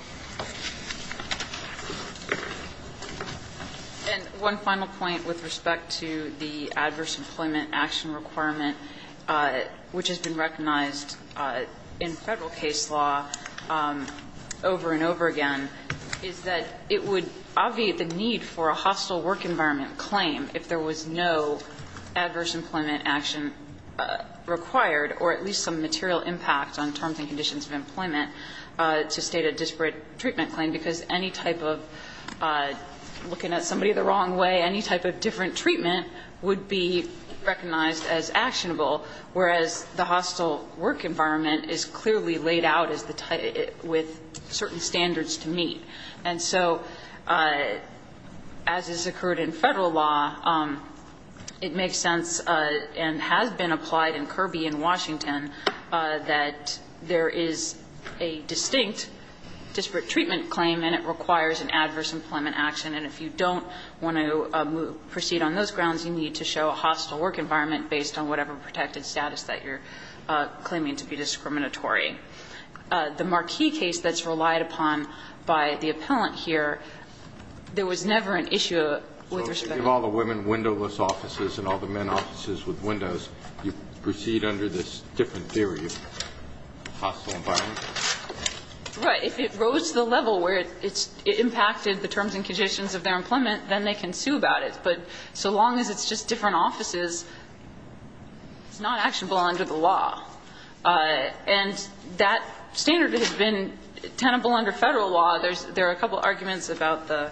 And one final point with respect to the adverse employment action requirement, which has been recognized in Federal case law over and over again, is that it would obviate the need for a hostile work environment claim if there was no adverse employment action required or at least some material impact on terms and conditions of employment to state a disparate treatment claim, because any type of looking at somebody the wrong way, any type of different treatment would be recognized as actionable, whereas the hostile work environment is clearly laid out with certain standards to meet. And so as has occurred in Federal law, it makes sense and has been applied in Kirby and Washington that there is a distinct disparate treatment claim and it requires an adverse employment action. And if you don't want to proceed on those grounds, you need to show a hostile work environment based on whatever protected status that you're claiming to be discriminatory. The Marquis case that's relied upon by the appellant here, there was never an issue with respect to that. Kennedy. So if you give all the women windowless offices and all the men offices with windows, you proceed under this different theory of hostile environment? Right. If it rose to the level where it's impacted the terms and conditions of their employment, then they can sue about it. But so long as it's just different offices, it's not actionable under the law. And that standard has been tenable under Federal law. There are a couple arguments about the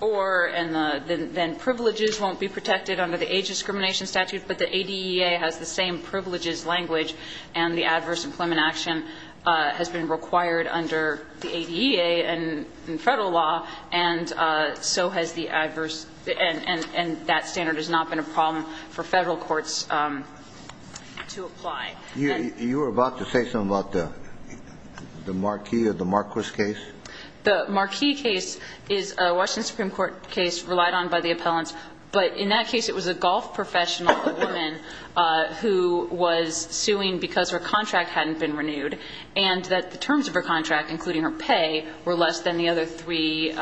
or and then privileges won't be protected under the age discrimination statute, but the ADEA has the same privileges language and the adverse employment action has been required under the ADEA and Federal law, and so has the adverse. And that standard has not been a problem for Federal courts to apply. You were about to say something about the Marquis or the Marquis case? The Marquis case is a Washington Supreme Court case relied on by the appellants. But in that case, it was a golf professional, a woman, who was suing because her contract hadn't been renewed and that the terms of her contract, including her pay, were less than the other three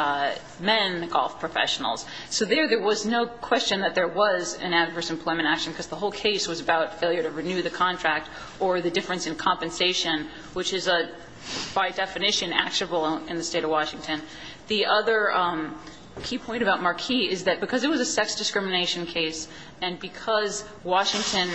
men golf professionals. So there, there was no question that there was an adverse employment action because the whole case was about failure to renew the contract or the difference in compensation, which is a, by definition, actionable in the State of Washington. The other key point about Marquis is that because it was a sex discrimination case and because Washington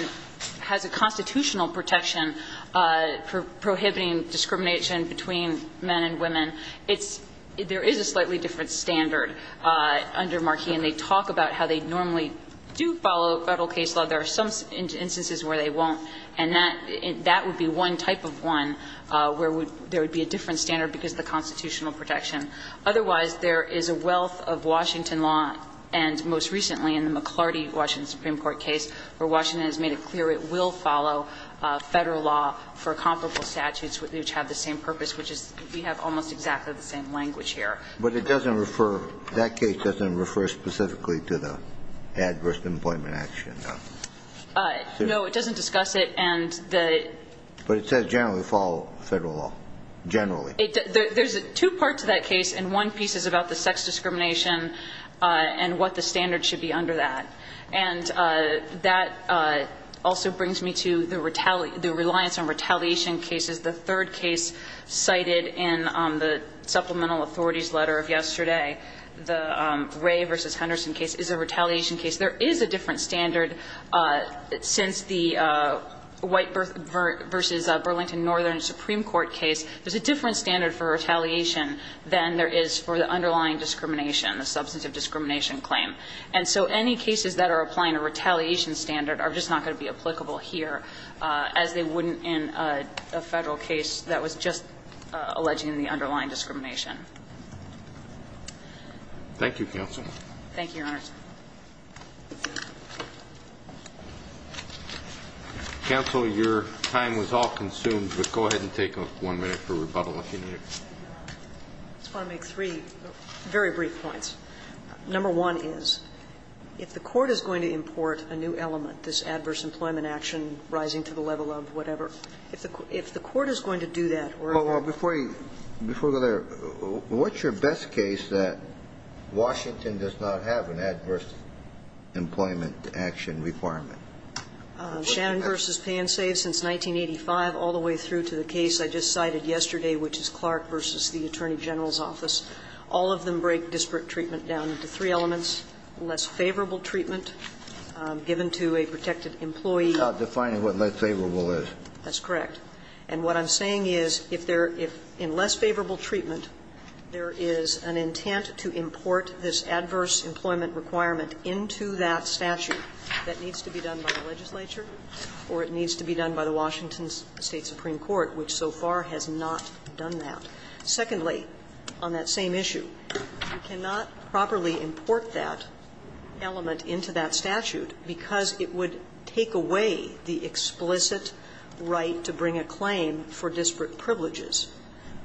has a constitutional protection for prohibiting discrimination between men and women, it's – there is a slightly different standard under Marquis. And they talk about how they normally do follow Federal case law. There are some instances where they won't, and that, that would be one type of one where there would be a different standard because of the constitutional protection. Otherwise, there is a wealth of Washington law, and most recently in the McLarty Washington Supreme Court case, where Washington has made it clear it will follow Federal law for comparable statutes which have the same purpose, which is we have almost exactly the same language here. But it doesn't refer – that case doesn't refer specifically to the adverse employment action, though? No, it doesn't discuss it, and the – But it says generally follow Federal law. Generally. There's two parts to that case, and one piece is about the sex discrimination and what the standard should be under that. And that also brings me to the – the reliance on retaliation cases. The third case cited in the Supplemental Authorities letter of yesterday, the Wray v. Henderson case, is a retaliation case. There is a different standard since the White v. Burlington Northern Supreme Court case. There's a different standard for retaliation than there is for the underlying discrimination, the substantive discrimination claim. And so any cases that are applying a retaliation standard are just not going to be applicable here as they wouldn't in a Federal case that was just alleging the underlying discrimination. Thank you, counsel. Thank you, Your Honor. Counsel, your time was all consumed, but go ahead and take one minute for rebuttal if you need it. I just want to make three very brief points. Number one is, if the Court is going to import a new element, this adverse employment action rising to the level of whatever, if the Court is going to do that or other than that. Before you go there, what's your best case that Washington does not have an adverse employment action requirement? Shannon v. Pansave since 1985, all the way through to the case I just cited yesterday, which is Clark v. the Attorney General's office. All of them break disparate treatment down into three elements. Less favorable treatment given to a protected employee. Defining what less favorable is. That's correct. And what I'm saying is, if there are less favorable treatment, there is an intent to import this adverse employment requirement into that statute. That needs to be done by the legislature or it needs to be done by the Washington State Supreme Court, which so far has not done that. Secondly, on that same issue, you cannot properly import that element into that statute because it would take away the explicit right to bring a claim for disparate privileges.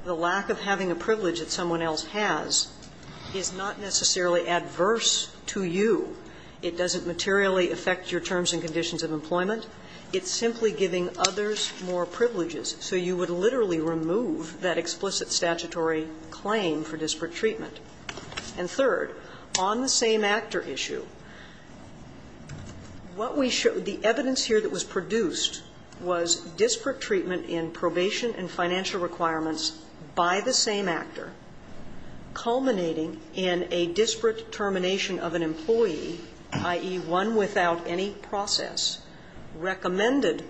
The lack of having a privilege that someone else has is not necessarily adverse to you. It doesn't materially affect your terms and conditions of employment. It's simply giving others more privileges. So you would literally remove that explicit statutory claim for disparate treatment. And third, on the same actor issue, what we showed, the evidence here that was produced was disparate treatment in probation and financial requirements by the same actor culminating in a disparate termination of an employee, i.e., one without any process, recommended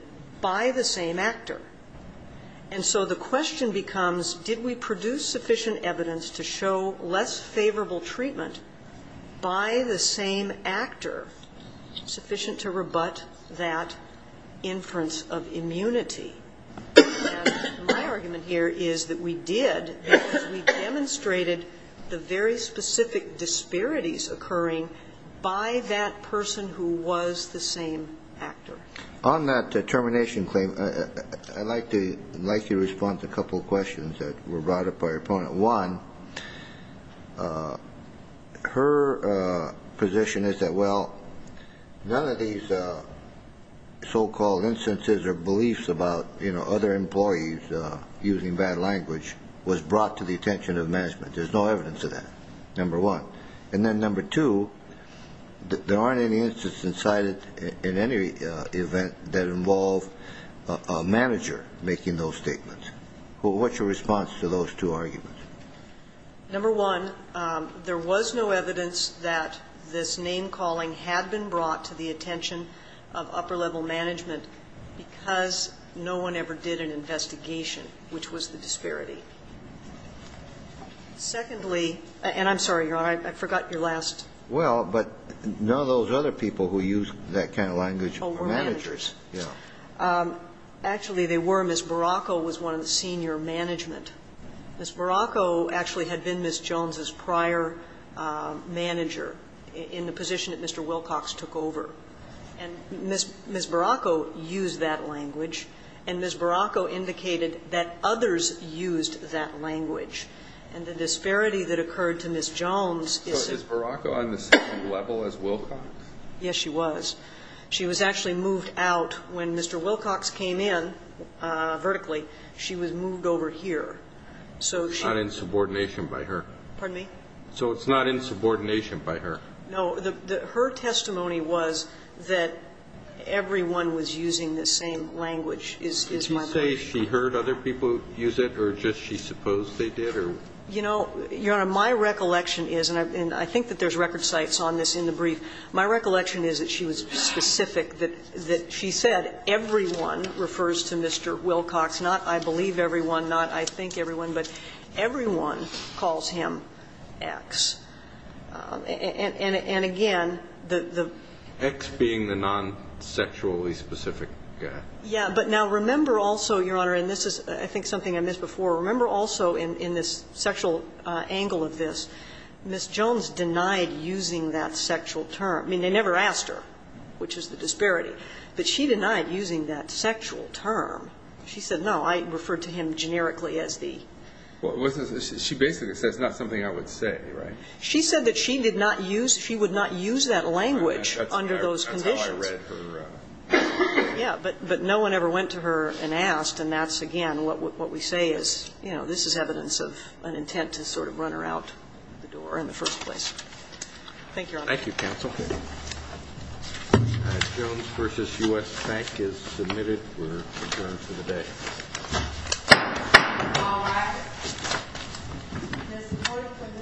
by the same actor. And so the question becomes, did we produce sufficient evidence to show less favorable treatment by the same actor sufficient to rebut that inference of immunity? And my argument here is that we did, because we demonstrated the very specific disparities occurring by that person who was the same actor. On that termination claim, I'd like to respond to a couple of questions that were brought up by your opponent. One, her position is that, well, none of these so-called instances or beliefs about, you know, other employees using bad language was brought to the attention of management. There's no evidence of that, number one. And then number two, there aren't any instances cited in any event that involve a manager making those statements. What's your response to those two arguments? Number one, there was no evidence that this name-calling had been brought to the attention of upper-level management because no one ever did an investigation, which was the disparity. Secondly, and I'm sorry, Your Honor, I forgot your last. Well, but none of those other people who used that kind of language were managers. Oh, were managers. Yeah. Actually, they were. Ms. Baracco was one of the senior management. Ms. Baracco actually had been Ms. Jones's prior manager in the position that Mr. Wilcox took over. And Ms. Baracco used that language, and Ms. Baracco indicated that others used that language. And the disparity that occurred to Ms. Jones is that Ms. Baracco was on the same level as Wilcox. Yes, she was. She was actually moved out when Mr. Wilcox came in vertically. She was moved over here. So she's not in subordination by her. Pardon me? So it's not in subordination by her. No. Her testimony was that everyone was using the same language. Did you say she heard other people use it, or just she supposed they did? You know, Your Honor, my recollection is, and I think that there's record sites on this in the brief, my recollection is that she was specific, that she said everyone refers to Mr. Wilcox, not I believe everyone, not I think everyone, but everyone calls him X. And again, the the X being the non-sexually specific guy. Yeah, but now remember also, Your Honor, and this is I think something I missed before, remember also in this sexual angle of this, Ms. Jones denied using that sexual term. I mean, they never asked her, which is the disparity, but she denied using that sexual term. She said, no, I referred to him generically as the. Well, she basically says that's not something I would say, right? She said that she did not use, she would not use that language under those conditions. Yeah, but no one ever went to her and asked, and that's, again, what we say is, you know, this is evidence of an intent to sort of run her out the door in the first place. Thank you, Your Honor. Thank you, counsel. Ms. Jones v. U.S. Bank is submitted for adjournment for the day. All rise. The support for this session stands adjourned.